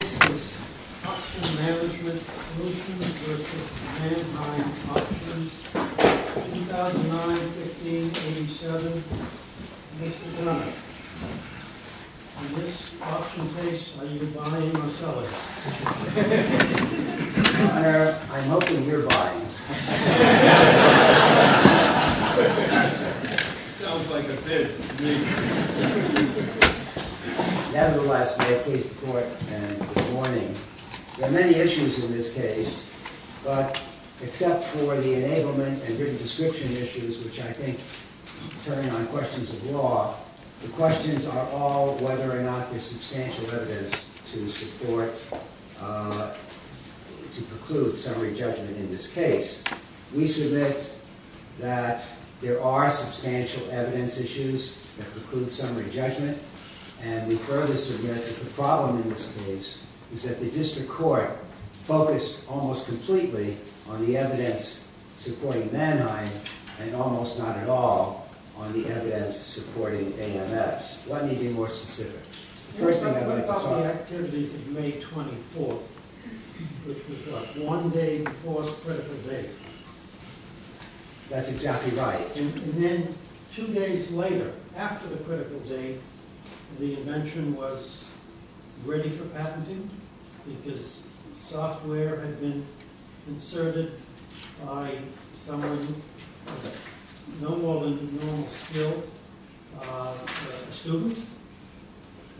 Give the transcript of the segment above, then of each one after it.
This is Auction Management Solutions v. Manheim Auctions, 2009-15-87. Mr. Gunner, in this auction case, are you buying or selling? Mr. Gunner, I'm hoping you're buying. Nevertheless, may it please the Court and good morning. There are many issues in this case, but except for the enablement and written description issues, which I think turn on questions of law, the questions are all whether or not there's substantial evidence to support the claim. We submit that there are substantial evidence issues that preclude summary judgment, and we further submit that the problem in this case is that the District Court focused almost completely on the evidence supporting Manheim and almost not at all on the evidence supporting AMS. Let me be more specific. I'm talking about the activities of May 24th, which was one day before the critical date. That's exactly right. And then two days later, after the critical date, the invention was ready for patenting because software had been inserted by someone with no more than normal skill, a student.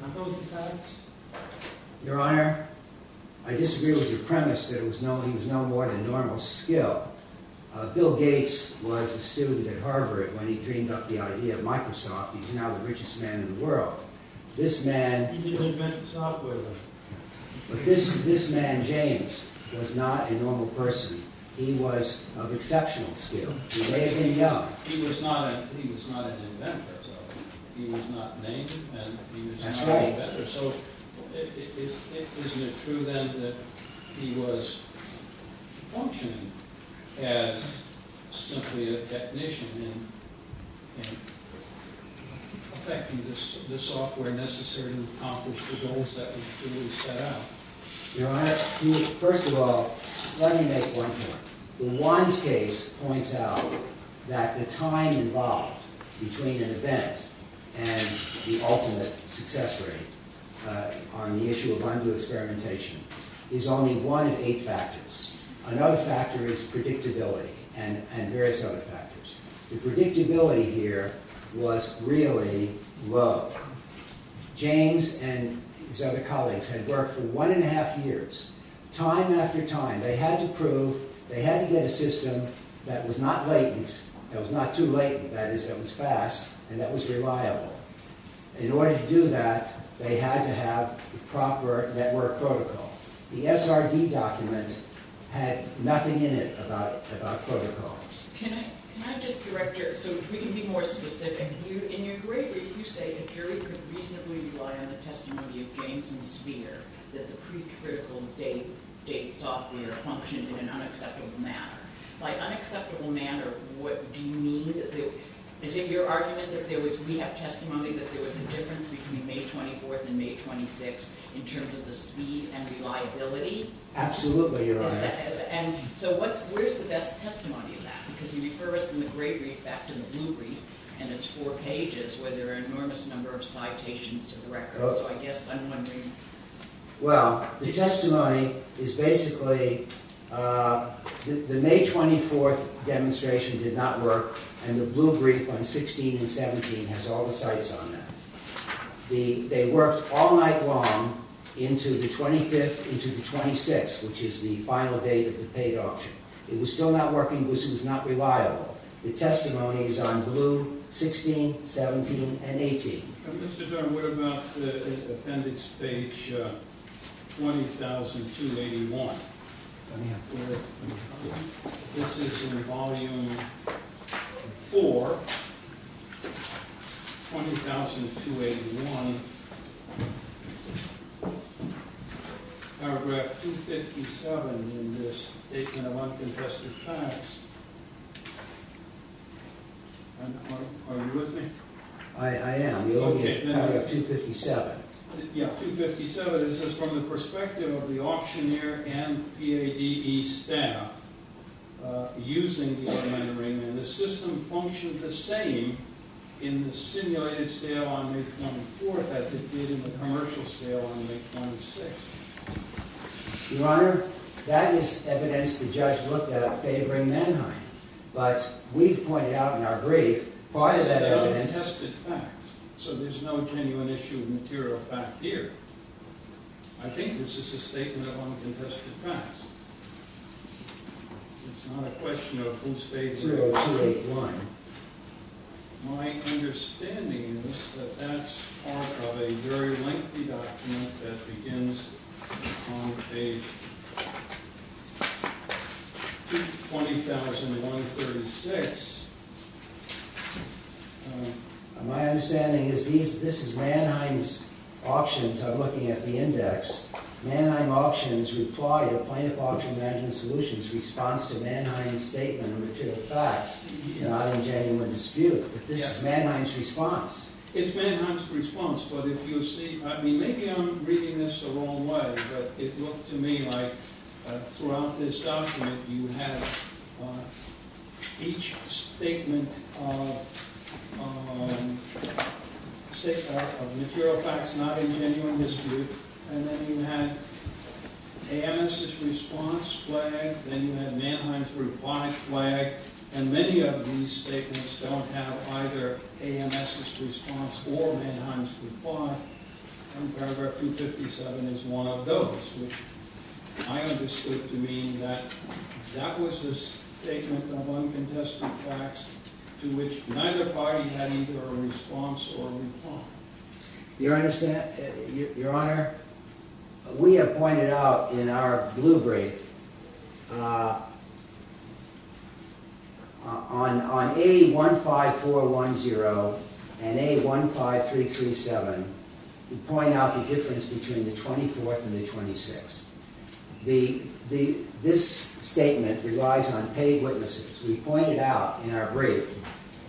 Now, those are the facts. Your Honor, I disagree with your premise that he was no more than normal skill. Bill Gates was a student at Harvard when he dreamed up the idea of Microsoft. He's now the richest man in the world. He didn't invent the software, though. But this man, James, was not a normal person. He was of exceptional skill. He may have been young. He was not an inventor, though. He was not named, and he was not an inventor. So isn't it true, then, that he was functioning as simply a technician in effecting the software necessary to accomplish the goals that he truly set out? Your Honor, first of all, let me make one point. Juan's case points out that the time involved between an event and the ultimate success rate on the issue of undo experimentation is only one of eight factors. Another factor is predictability and various other factors. The predictability here was really low. James and his other colleagues had worked for one and a half years. Time after time, they had to prove they had to get a system that was not latent, that was not too latent, that is, that was fast and that was reliable. In order to do that, they had to have the proper network protocol. The SRD document had nothing in it about protocol. Can I just correct you so we can be more specific? In your brief, you say the jury could reasonably rely on the testimony of James and Speer that the precritical date software functioned in an unacceptable manner. By unacceptable manner, what do you mean? Is it your argument that there was – we have testimony that there was a difference between May 24th and May 26th in terms of the speed and reliability? Absolutely, Your Honor. So where's the best testimony of that? Because you refer us in the great brief back to the blue brief and it's four pages where there are an enormous number of citations to the record. So I guess I'm wondering. Well, the testimony is basically the May 24th demonstration did not work and the blue brief on 16 and 17 has all the cites on that. They worked all night long into the 25th, into the 26th, which is the final date of the paid auction. It was still not working because it was not reliable. The testimony is on blue, 16, 17, and 18. Mr. Durham, what about the appendix page 20281? Let me have a look. This is in volume 4, 20281, paragraph 257 in this statement of uncontested facts. Are you with me? I am. Okay. Paragraph 257. Yeah, 257. It says, from the perspective of the auctioneer and PADE staff using the automatic ringman, the system functioned the same in the simulated sale on May 24th as it did in the commercial sale on May 26th. Your Honor, that is evidence the judge looked at favoring Mannheim. But we've pointed out in our brief part of that evidence. So there's no genuine issue of material fact here. I think this is a statement of uncontested facts. It's not a question of whose page it is. My understanding is that that's part of a very lengthy document that begins on page 220,136. My understanding is this is Mannheim's auctions. I'm looking at the index. Mannheim Auctions replied to Plaintiff Auction Management Solutions' response to Mannheim's statement of material facts, not in genuine dispute. But this is Mannheim's response. It's Mannheim's response. Maybe I'm reading this the wrong way. But it looked to me like throughout this document you have each statement of material facts not in genuine dispute. And then you have AMS's response flag. Then you have Mannheim's reply flag. And many of these statements don't have either AMS's response or Mannheim's reply. And paragraph 257 is one of those, which I understood to mean that that was a statement of uncontested facts to which neither party had either a response or a reply. Your Honor, we have pointed out in our blue brief on A15410 and A15337, we point out the difference between the 24th and the 26th. This statement relies on paid witnesses. We pointed out in our brief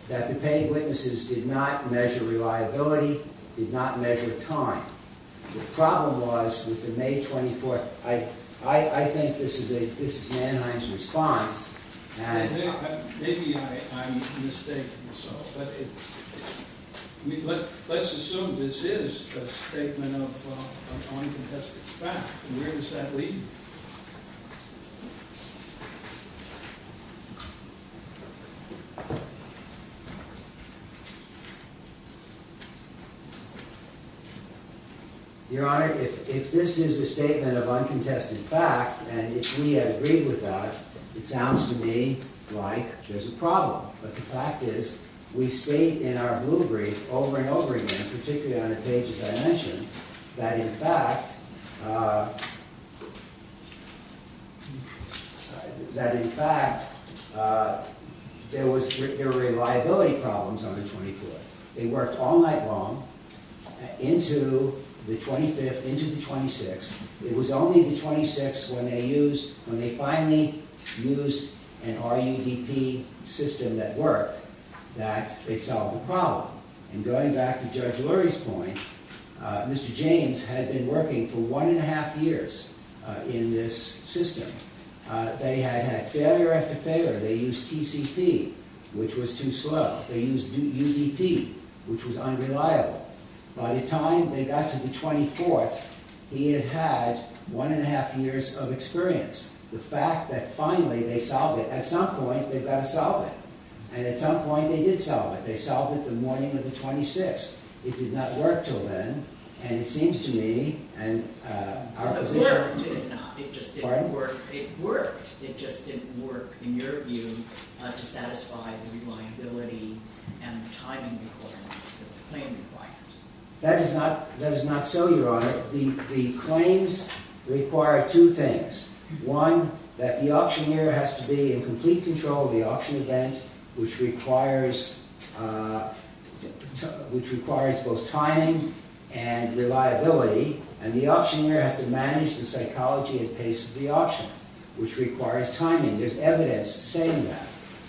that the paid witnesses did not measure reliability, did not measure time. The problem was with the May 24th. I think this is Mannheim's response. Maybe I'm mistaken. Let's assume this is a statement of uncontested facts. Where does that lead? Your Honor, if this is a statement of uncontested facts and if we have agreed with that, it sounds to me like there's a problem. But the fact is we state in our blue brief over and over again, particularly on the pages I mentioned, that in fact there were reliability problems on the 24th. They worked all night long into the 25th, into the 26th. It was only the 26th when they finally used an RUDP system that worked that they solved the problem. And going back to Judge Lurie's point, Mr. James had been working for one and a half years in this system. They had had failure after failure. They used TCP, which was too slow. They used UDP, which was unreliable. By the time they got to the 24th, he had had one and a half years of experience. The fact that finally they solved it. At some point, they've got to solve it. And at some point, they did solve it. They solved it the morning of the 26th. It did not work until then. And it seems to me, and our position— It worked. It did not. It just didn't work. It worked. It just didn't work, in your view, to satisfy the reliability and timing requirements that the claim requires. That is not so, Your Honor. The claims require two things. One, that the auctioneer has to be in complete control of the auction event, which requires both timing and reliability. And the auctioneer has to manage the psychology and pace of the auction, which requires timing. There's evidence saying that.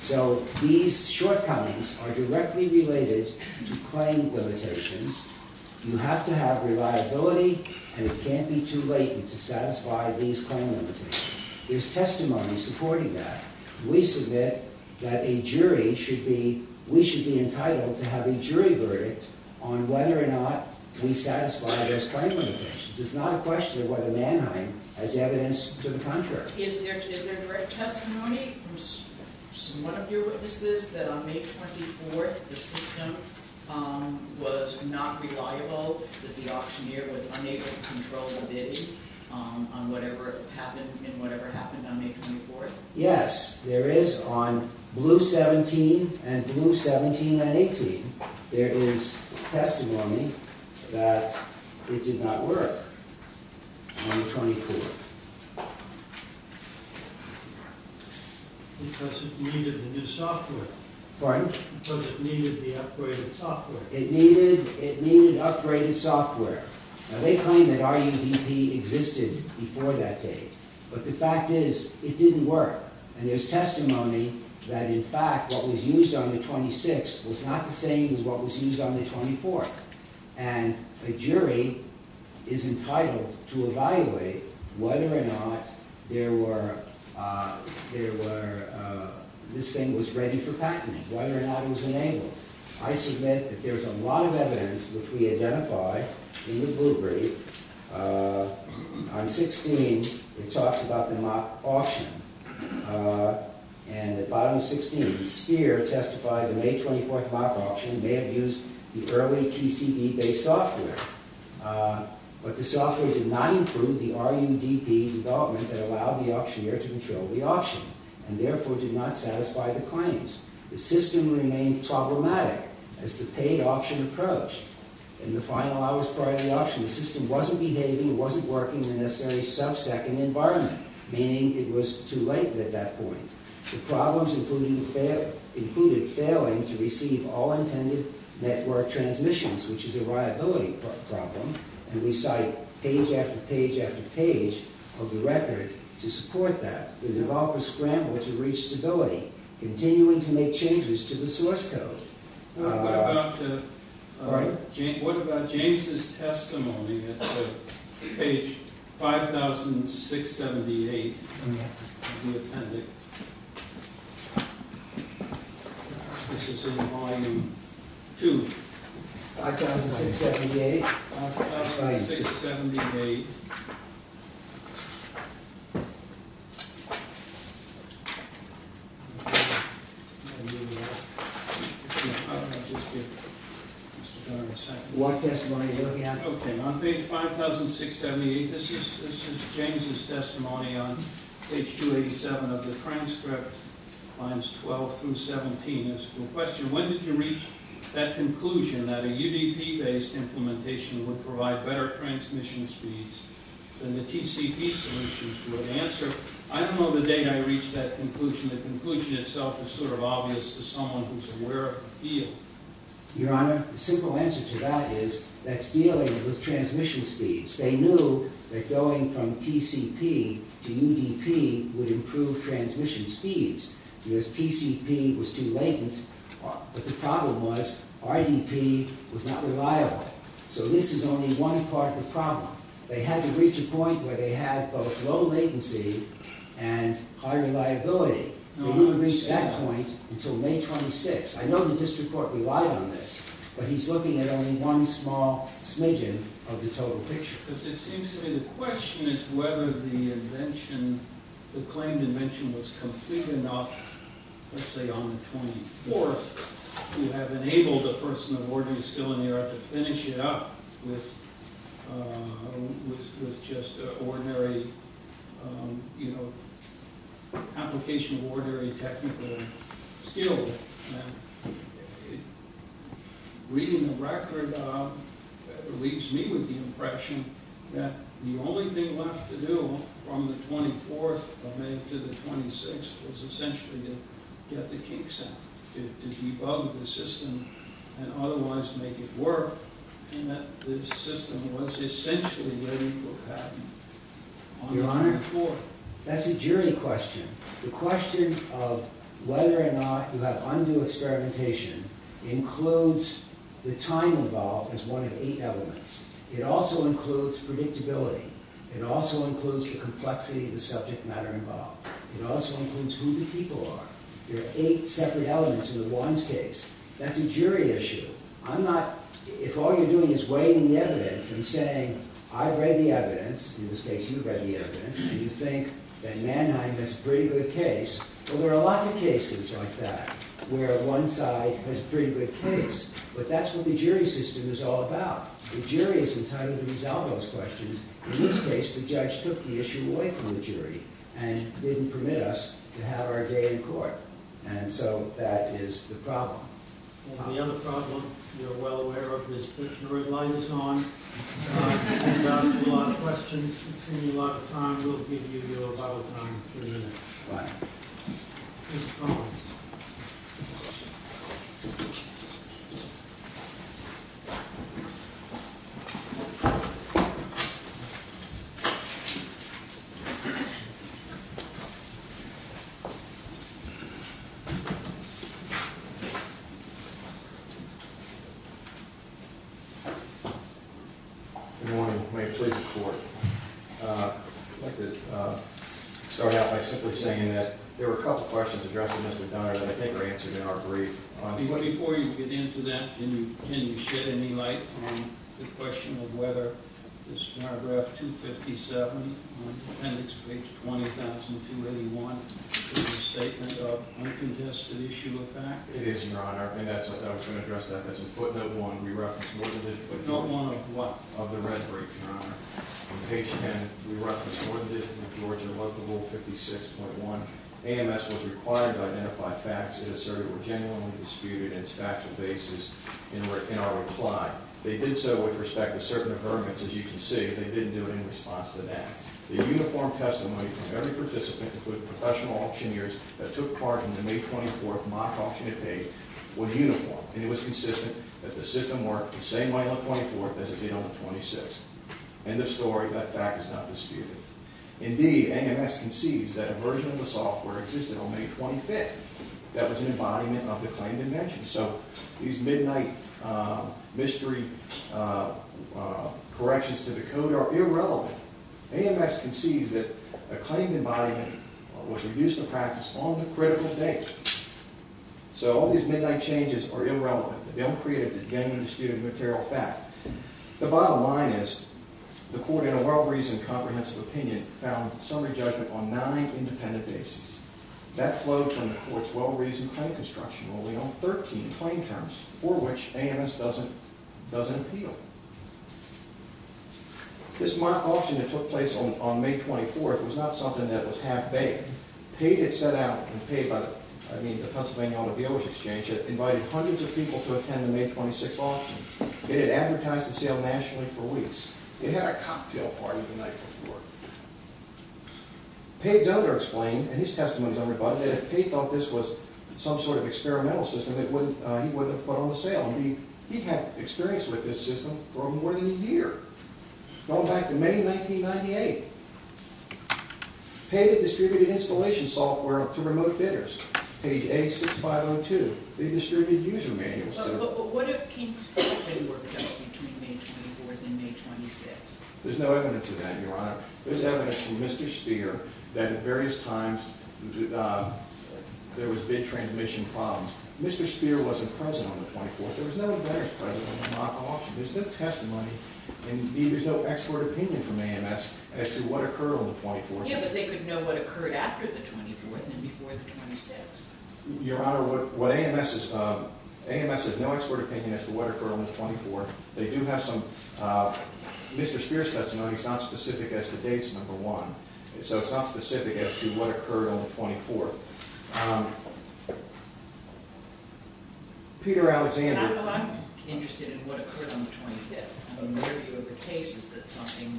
So these shortcomings are directly related to claim limitations. You have to have reliability, and it can't be too late to satisfy these claim limitations. There's testimony supporting that. We submit that a jury should be—we should be entitled to have a jury verdict on whether or not we satisfy those claim limitations. It's not a question of whether Mannheim has evidence to the contrary. Is there direct testimony from some of your witnesses that on May 24th, the system was not reliable, that the auctioneer was unable to control the bidding on whatever happened on May 24th? Yes, there is. On Blue 17 and Blue 17 and 18, there is testimony that it did not work on the 24th. Because it needed the new software. Pardon? Because it needed the upgraded software. It needed—it needed upgraded software. Now, they claim that RUDP existed before that date, but the fact is, it didn't work. And there's testimony that, in fact, what was used on the 26th was not the same as what was used on the 24th. And a jury is entitled to evaluate whether or not there were—this thing was ready for patenting, whether or not it was enabled. I submit that there's a lot of evidence which we identify in the Bluebrief. On 16, it talks about the mock auction. And at bottom of 16, Speer testified the May 24th mock auction may have used the early TCB-based software. But the software did not include the RUDP development that allowed the auctioneer to control the auction, and therefore did not satisfy the claims. The system remained problematic as the paid auction approached. In the final hours prior to the auction, the system wasn't behaving, it wasn't working in a necessary sub-second environment, meaning it was too late at that point. The problems included failing to receive all intended network transmissions, which is a liability problem. And we cite page after page after page of the record to support that. The developers scrambled to reach stability, continuing to make changes to the source code. What about James' testimony at page 5,678 of the appendix? This is in volume 2. 5,678? 5,678. What testimony are you looking at? Okay, on page 5,678, this is James' testimony on page 287 of the transcript, lines 12 through 17. It's the question, when did you reach that conclusion that a RUDP-based implementation would provide better transmission speeds than the TCP solutions would answer? I don't know the date I reached that conclusion. The conclusion itself is sort of obvious to someone who's aware of the field. Your Honor, the simple answer to that is that's dealing with transmission speeds. They knew that going from TCP to UDP would improve transmission speeds because TCP was too latent. But the problem was RDP was not reliable. So this is only one part of the problem. They had to reach a point where they had both low latency and high reliability. They didn't reach that point until May 26. I know the district court relied on this, but he's looking at only one small smidgen of the total picture. Because it seems to me the question is whether the invention, the claimed invention, was complete enough, let's say on the 24th, to have enabled a person of ordinary skill in the art to finish it up with just an ordinary application of ordinary technical skill. Reading the record leaves me with the impression that the only thing left to do from the 24th of May to the 26th was essentially to get the kinks out, to debug the system and otherwise make it work, and that the system was essentially ready for patent on the 24th. Your Honor, that's a jury question. The question of whether or not you have undue experimentation includes the time involved as one of eight elements. It also includes predictability. It also includes the complexity of the subject matter involved. It also includes who the people are. There are eight separate elements in the Wands case. That's a jury issue. I'm not, if all you're doing is weighing the evidence and saying, I've read the evidence, in this case you've read the evidence, and you think that Mannheim has a pretty good case. Well, there are lots of cases like that where one side has a pretty good case, but that's what the jury system is all about. The jury is entitled to resolve those questions. In this case, the judge took the issue away from the jury and didn't permit us to have our day in court, and so that is the problem. And the other problem, you're well aware of, this dictionary light is on. We've asked you a lot of questions. We've given you a lot of time. We'll give you your bottle time in three minutes. All right. Good morning. May it please the Court. I'd like to start out by simply saying that there were a couple of questions addressed in Mr. Dunner that I think are answered in our brief. Before you get into that, can you shed any light on the question of whether this paragraph 257 on appendix page 20,281 is a statement of uncontested issue of facts? It is, Your Honor, and that's what I was going to address. That's in footnote one. We referenced more than just footnote one of the reserach, Your Honor. On page 10, we referenced more than just Georgia Local Rule 56.1. AMS was required to identify facts that asserted were genuinely disputed and its factual basis in our reply. They did so with respect to certain agreements. As you can see, they didn't do it in response to that. The uniform testimony from every participant, including professional auctioneers, that took part in the May 24th mock auction at bay was uniform, and it was consistent that the system worked the same way on the 24th as it did on the 26th. End of story. That fact is not disputed. Indeed, AMS concedes that a version of the software existed on May 25th that was an embodiment of the claimed invention. So these midnight mystery corrections to the code are irrelevant. AMS concedes that a claimed embodiment was reduced to practice on the critical date. So all these midnight changes are irrelevant. They don't create a genuine disputed material fact. The bottom line is the court in a well-reasoned comprehensive opinion found summary judgment on nine independent bases. That flowed from the court's well-reasoned claim construction only on 13 claim terms for which AMS doesn't appeal. This mock auction that took place on May 24th was not something that was half-baked. Pate had set out and invited hundreds of people to attend the May 26th auction. It had advertised the sale nationally for weeks. It had a cocktail party the night before. Pate's editor explained, and his testimony is unrebutted, that if Pate thought this was some sort of experimental system, he wouldn't have put on the sale. He had experience with this system for more than a year. Go back to May 1998. Pate had distributed installation software to remote bidders. Page A6502. They distributed user manuals. But what if Kingsport had worked out between May 24th and May 26th? There's no evidence of that, Your Honor. There's evidence from Mr. Spear that at various times there was bid transmission problems. Mr. Spear wasn't present on the 24th. There was no bidders present at the mock auction. There's no testimony and there's no expert opinion from AMS as to what occurred on the 24th. Yeah, but they could know what occurred after the 24th and before the 26th. Your Honor, AMS has no expert opinion as to what occurred on the 24th. They do have some Mr. Spear's testimony. It's not specific as to dates, number one. So it's not specific as to what occurred on the 24th. Peter Alexander. I'm interested in what occurred on the 25th. My view of the case is that something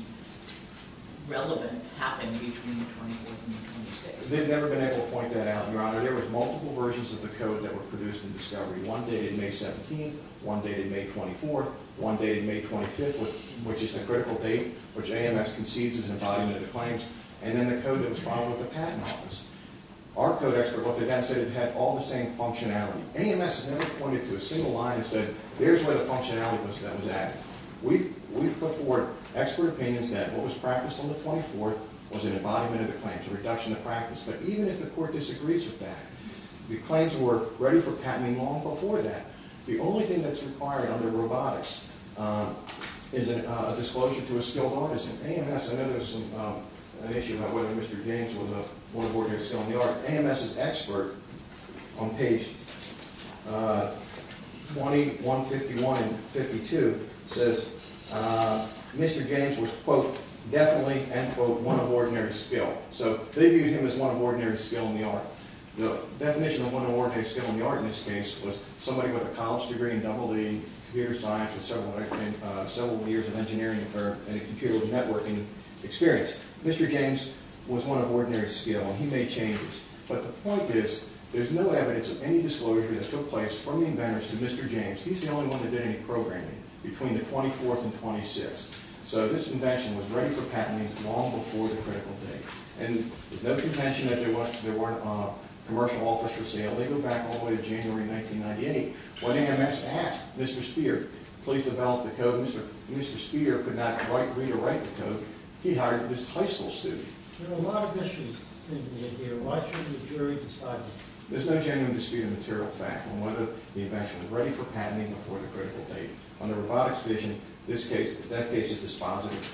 relevant happened between the 24th and the 26th. They've never been able to point that out, Your Honor. There were multiple versions of the code that were produced in discovery. One dated May 17th. One dated May 24th. One dated May 25th, which is the critical date, which AMS concedes is in violation of the claims. And then the code that was filed with the Patent Office. Our code expert looked at that and said it had all the same functionality. AMS has never pointed to a single line and said, there's where the functionality was that was at. We've put forward expert opinions that what was practiced on the 24th was an embodiment of the claims, a reduction of practice. But even if the court disagrees with that, the claims were ready for patenting long before that. The only thing that's required under robotics is a disclosure to a skilled artist. AMS, I know there's an issue about whether Mr. James was a one of ordinary skill in the art. AMS's expert on page 2151 and 52 says Mr. James was, quote, definitely, end quote, one of ordinary skill. So they viewed him as one of ordinary skill in the art. The definition of one of ordinary skill in the art in this case was somebody with a college degree in EE, computer science with several years of engineering and a computer networking experience. Mr. James was one of ordinary skill and he made changes. But the point is, there's no evidence of any disclosure that took place from the inventors to Mr. James. He's the only one that did any programming between the 24th and 26th. So this invention was ready for patenting long before the critical date. And there's no contention that there weren't commercial offers for sale. They go back all the way to January 1998 when AMS asked Mr. Spear, please develop the code. Mr. Spear could not quite read or write the code. He hired this high school student. There are a lot of issues seem to be here. Why shouldn't the jury decide that? There's no genuine dispute of material fact on whether the invention was ready for patenting before the critical date. Under robotics vision, that case is dispositive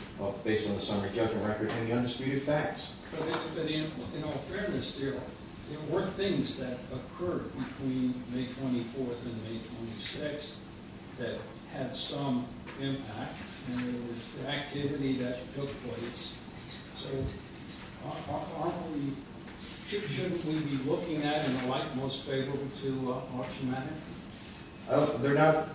based on the summary judgment record and the undisputed facts. But in all fairness, there were things that occurred between May 24th and May 26th that had some impact. And there was activity that took place. So aren't we, shouldn't we be looking at it in the light most favorable to auction matter? They're not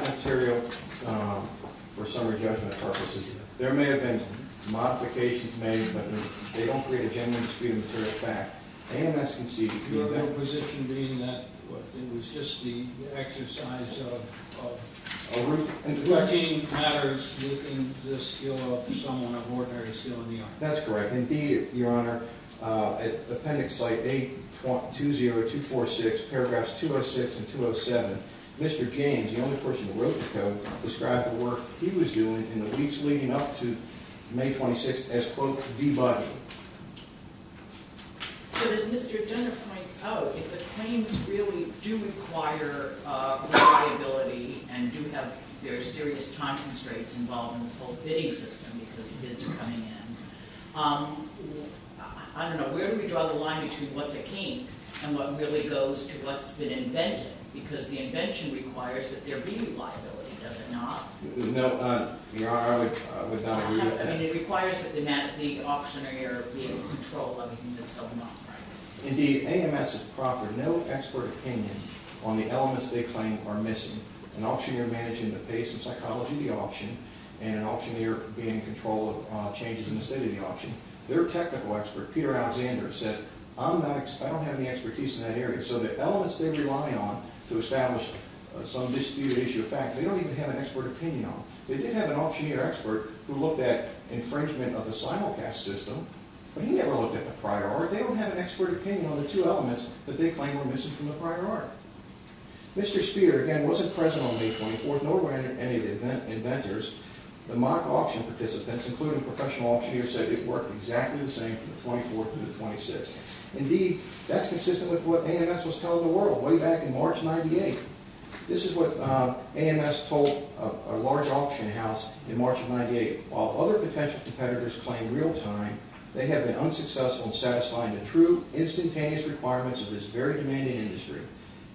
material for summary judgment purposes. There may have been modifications made, but they don't create a genuine dispute of material fact. AMS conceded to them. Your position being that it was just the exercise of routine matters within the skill of someone of ordinary skill in the art. That's correct. Indeed, Your Honor. Appendix Site A20246, paragraphs 206 and 207. Mr. James, the only person who wrote the code, described the work he was doing in the weeks leading up to May 26th as, quote, debugging. But as Mr. Dunder points out, if the claims really do require reliability and do have very serious time constraints involved in the full bidding system because bids are coming in, I don't know, where do we draw the line between what's akin and what really goes to what's been invented? Because the invention requires that there be reliability, does it not? No, Your Honor, I would not agree with that. I mean, it requires that the auctioneer be in control of everything that's going on, right? Indeed, AMS has proffered no expert opinion on the elements they claim are missing. An auctioneer managing the pace and psychology of the auction and an auctioneer being in control of changes in the state of the auction, their technical expert, Peter Alexander, said, I'm not, I don't have any expertise in that area. So the elements they rely on to establish some disputed issue of fact, they don't even have an expert opinion on. They did have an auctioneer expert who looked at infringement of the simulcast system, but he never looked at the prior art. They don't have an expert opinion on the two elements that they claim were missing from the prior art. Mr. Spear, again, wasn't present on May 24th, nor were any of the inventors. The mock auction participants, including professional auctioneers, said it worked exactly the same from the 24th through the 26th. Indeed, that's consistent with what AMS was telling the world way back in March of 98. This is what AMS told a large auction house in March of 98. While other potential competitors claim real-time, they have been unsuccessful in satisfying the true instantaneous requirements of this very demanding industry.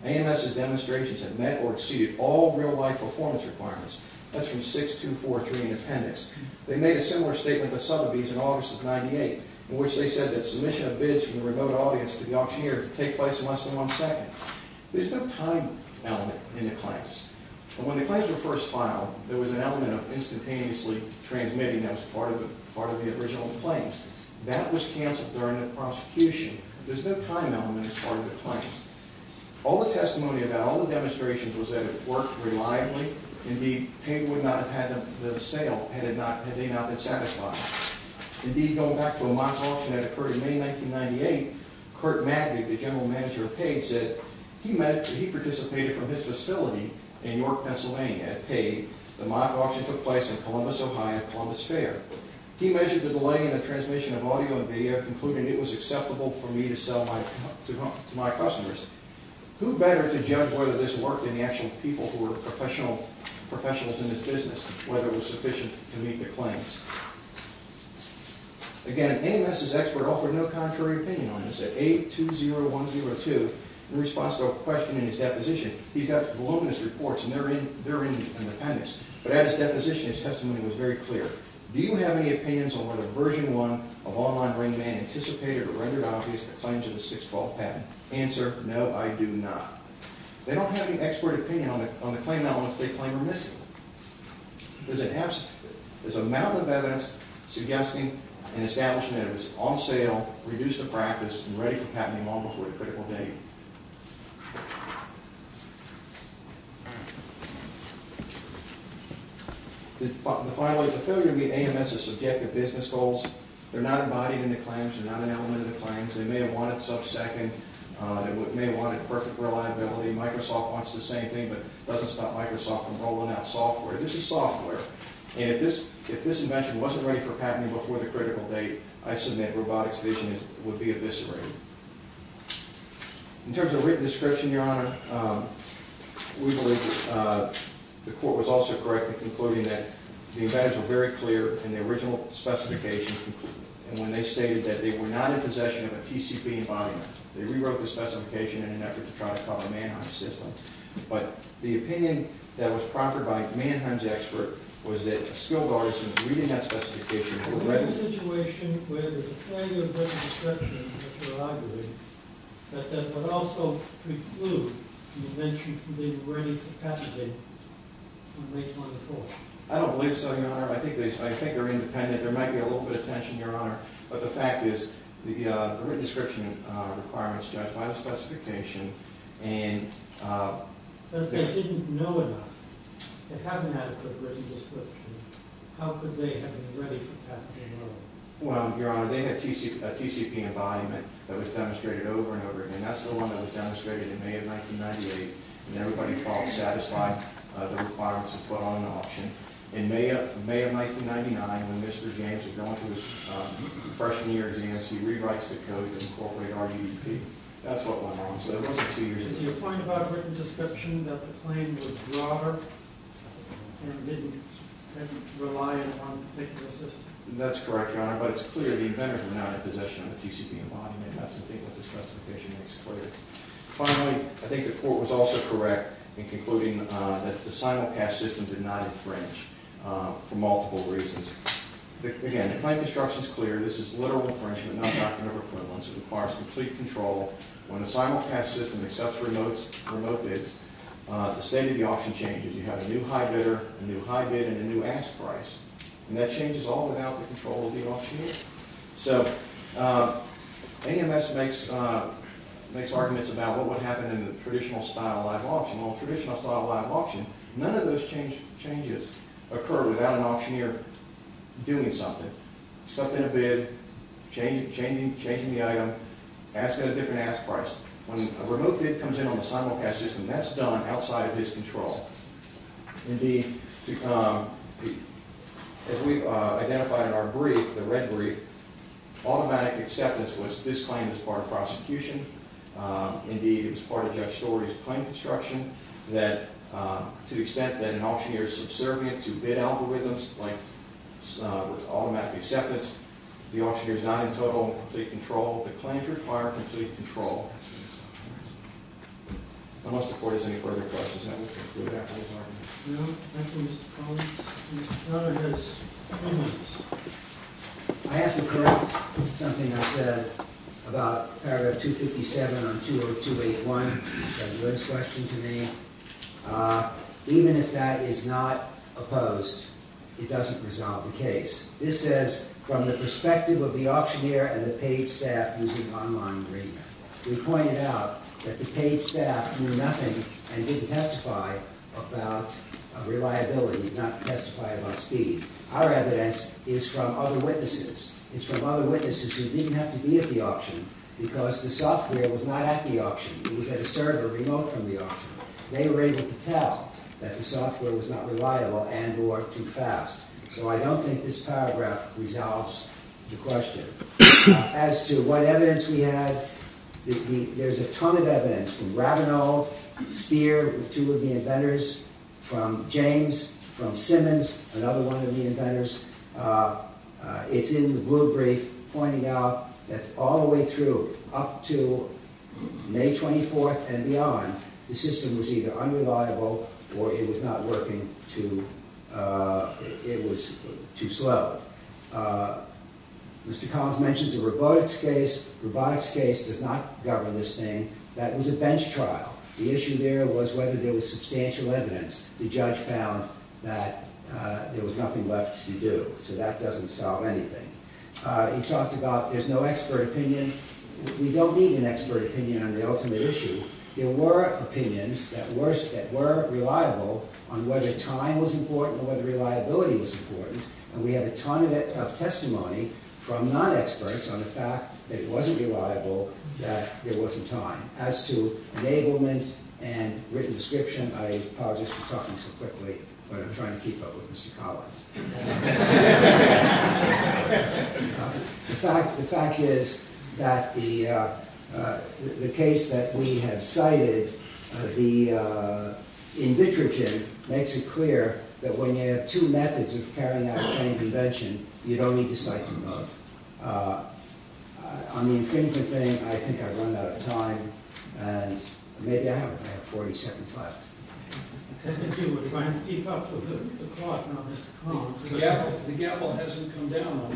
AMS's demonstrations have met or exceeded all real-life performance requirements. That's from 6243 in appendix. They made a similar statement to Sotheby's in August of 98, in which they said that submission of bids from the remote audience to the auctioneer could take place in less than one second. There's no time element in the claims. When the claims were first filed, there was an element of instantaneously transmitting that was part of the original claims. That was canceled during the prosecution. There's no time element as part of the claims. All the testimony about all the demonstrations was that it worked reliably. Indeed, Page would not have had the sale had they not been satisfied. Indeed, going back to a mock auction that occurred in May of 1998, Kurt Madig, the general manager of Page, said he participated from his facility in York, Pennsylvania at Page. The mock auction took place in Columbus, Ohio at Columbus Fair. He measured the delay in the transmission of audio and video, concluding it was acceptable for me to sell to my customers. Who better to judge whether this worked than the actual people who were professionals in this business, whether it was sufficient to meet the claims. Again, NMS's expert offered no contrary opinion on this. At 820102, in response to a question in his deposition, he got voluminous reports, and they're in the appendix. But at his deposition, his testimony was very clear. Do you have any opinions on whether Version 1 of Online Brain Demand anticipated or rendered obvious the claims of the 612 patent? Answer, no, I do not. They don't have any expert opinion on the claim elements they claim are missing. There's a mountain of evidence suggesting an establishment that it was on sale, reduced to practice, and ready for patenting almost to a critical date. Finally, the failure to meet AMS's subjective business goals, they're not embodied in the claims, they're not an element of the claims. They may have wanted sub-second, they may have wanted perfect reliability. Microsoft wants the same thing, but doesn't stop Microsoft from rolling out software. This is software, and if this invention wasn't ready for patenting before the critical date, I submit robotics vision would be eviscerated. In terms of written description, Your Honor, we believe the court was also correct in concluding that the evidence was very clear in the original specification, and when they stated that they were not in possession of a TCP embodiment, they rewrote the specification in an effort to try to follow Mannheim's system. But the opinion that was proffered by Mannheim's expert was that skilled artisans reading that specification were ready. Is there a situation where there's a failure of written description in the prerogative that that would also preclude the invention being ready for patenting from May 24th? I don't believe so, Your Honor. I think they're independent. There might be a little bit of tension, Your Honor. But the fact is, the written description requirements, Judge, by the specification, and... If they didn't know enough to have an adequate written description, how could they have been ready for patenting early? Well, Your Honor, they had a TCP embodiment that was demonstrated over and over, and that's the one that was demonstrated in May of 1998, and everybody felt satisfied the requirements had put on an option. In May of 1999, when Mr. James was going through his freshman year exams, he rewrites the code to incorporate RDP. That's what went on, so it wasn't two years ago. Judge, is your point about written description that the claim was broader and didn't rely on a particular system? That's correct, Your Honor, but it's clear the inventors were not in possession of a TCP embodiment. That's something that the specification makes clear. Finally, I think the court was also correct in concluding that the simulcast system did not infringe for multiple reasons. Again, the claim description is clear. This is literal infringement, not doctrinal equivalence. It requires complete control. When a simulcast system accepts remote bids, the state of the auction changes. You have a new high bidder, a new high bid, and a new ask price, and that changes all without the control of the auctioneer. So, AMS makes arguments about what would happen in a traditional style live auction. Well, in a traditional style live auction, none of those changes occur without an auctioneer doing something. Accepting a bid, changing the item, asking a different ask price. When a remote bid comes in on the simulcast system, that's done outside of his control. Indeed, as we've identified in our brief, the red brief, automatic acceptance was this claim was part of prosecution. Indeed, it was part of Judge Story's claim construction to the extent that an auctioneer is subservient to bid algorithms, like automatic acceptance, the auctioneer is not in total and complete control. The claims require complete control. Unless the court has any further questions. I have to correct something I said about paragraph 257 on 20281. It's a loose question to me. Even if that is not opposed, it doesn't resolve the case. This says, from the perspective of the auctioneer and the paid staff using online agreement, we pointed out that the paid staff knew nothing and didn't testify about reliability, not testify about speed. Our evidence is from other witnesses. It's from other witnesses who didn't have to be at the auction because the software was not at the auction. It was at a server remote from the auction. They were able to tell that the software was not reliable and or too fast. So I don't think this paragraph resolves the question. As to what evidence we have, there's a ton of evidence from Rabinow, Speer, two of the inventors, from James, from Simmons, another one of the inventors. It's in the blue brief pointing out that all the way through up to May 24th and beyond, the system was either unreliable or it was not working, it was too slow. Mr. Collins mentions a robotics case. Robotics case does not govern this thing. That was a bench trial. The issue there was whether there was substantial evidence. The judge found that there was nothing left to do. So that doesn't solve anything. He talked about there's no expert opinion. We don't need an expert opinion on the ultimate issue. There were opinions that were reliable on whether time was important or whether reliability was important. And we have a ton of testimony from non-experts on the fact that it wasn't reliable, that there wasn't time. As to enablement and written description, I apologize for talking so quickly, but I'm trying to keep up with Mr. Collins. The fact is that the case that we have cited, the in vitro gym, makes it clear that when you have two methods of carrying out the same invention, you don't need to cite them both. On the infringement thing, I think I've run out of time. Maybe I have 40 seconds left. I think you were trying to keep up with the clock, not Mr. Collins. The gavel hasn't come down on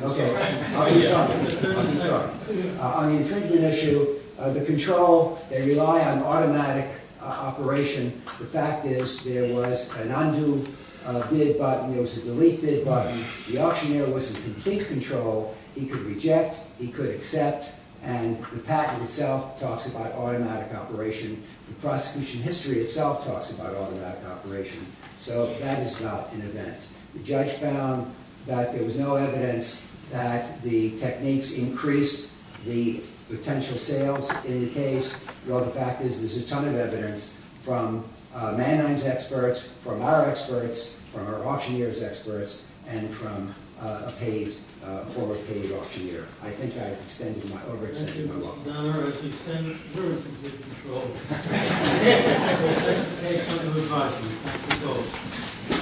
this. On the infringement issue, the control, they rely on automatic operation. The fact is there was an undo bid button. There was a delete bid button. The auctioneer was in complete control. He could reject. He could accept. And the patent itself talks about automatic operation. The prosecution history itself talks about automatic operation. So that is not an event. The judge found that there was no evidence that the techniques increased the potential sales in the case. Well, the fact is there's a ton of evidence from Mannheim's experts, from our experts, from our auctioneer's experts, and from a paid, a former paid auctioneer. I think I've extended my, overextended my welcome. Thank you, Mr. Donner. As an extended group, you're in control. This is the case under revising. Thank you both.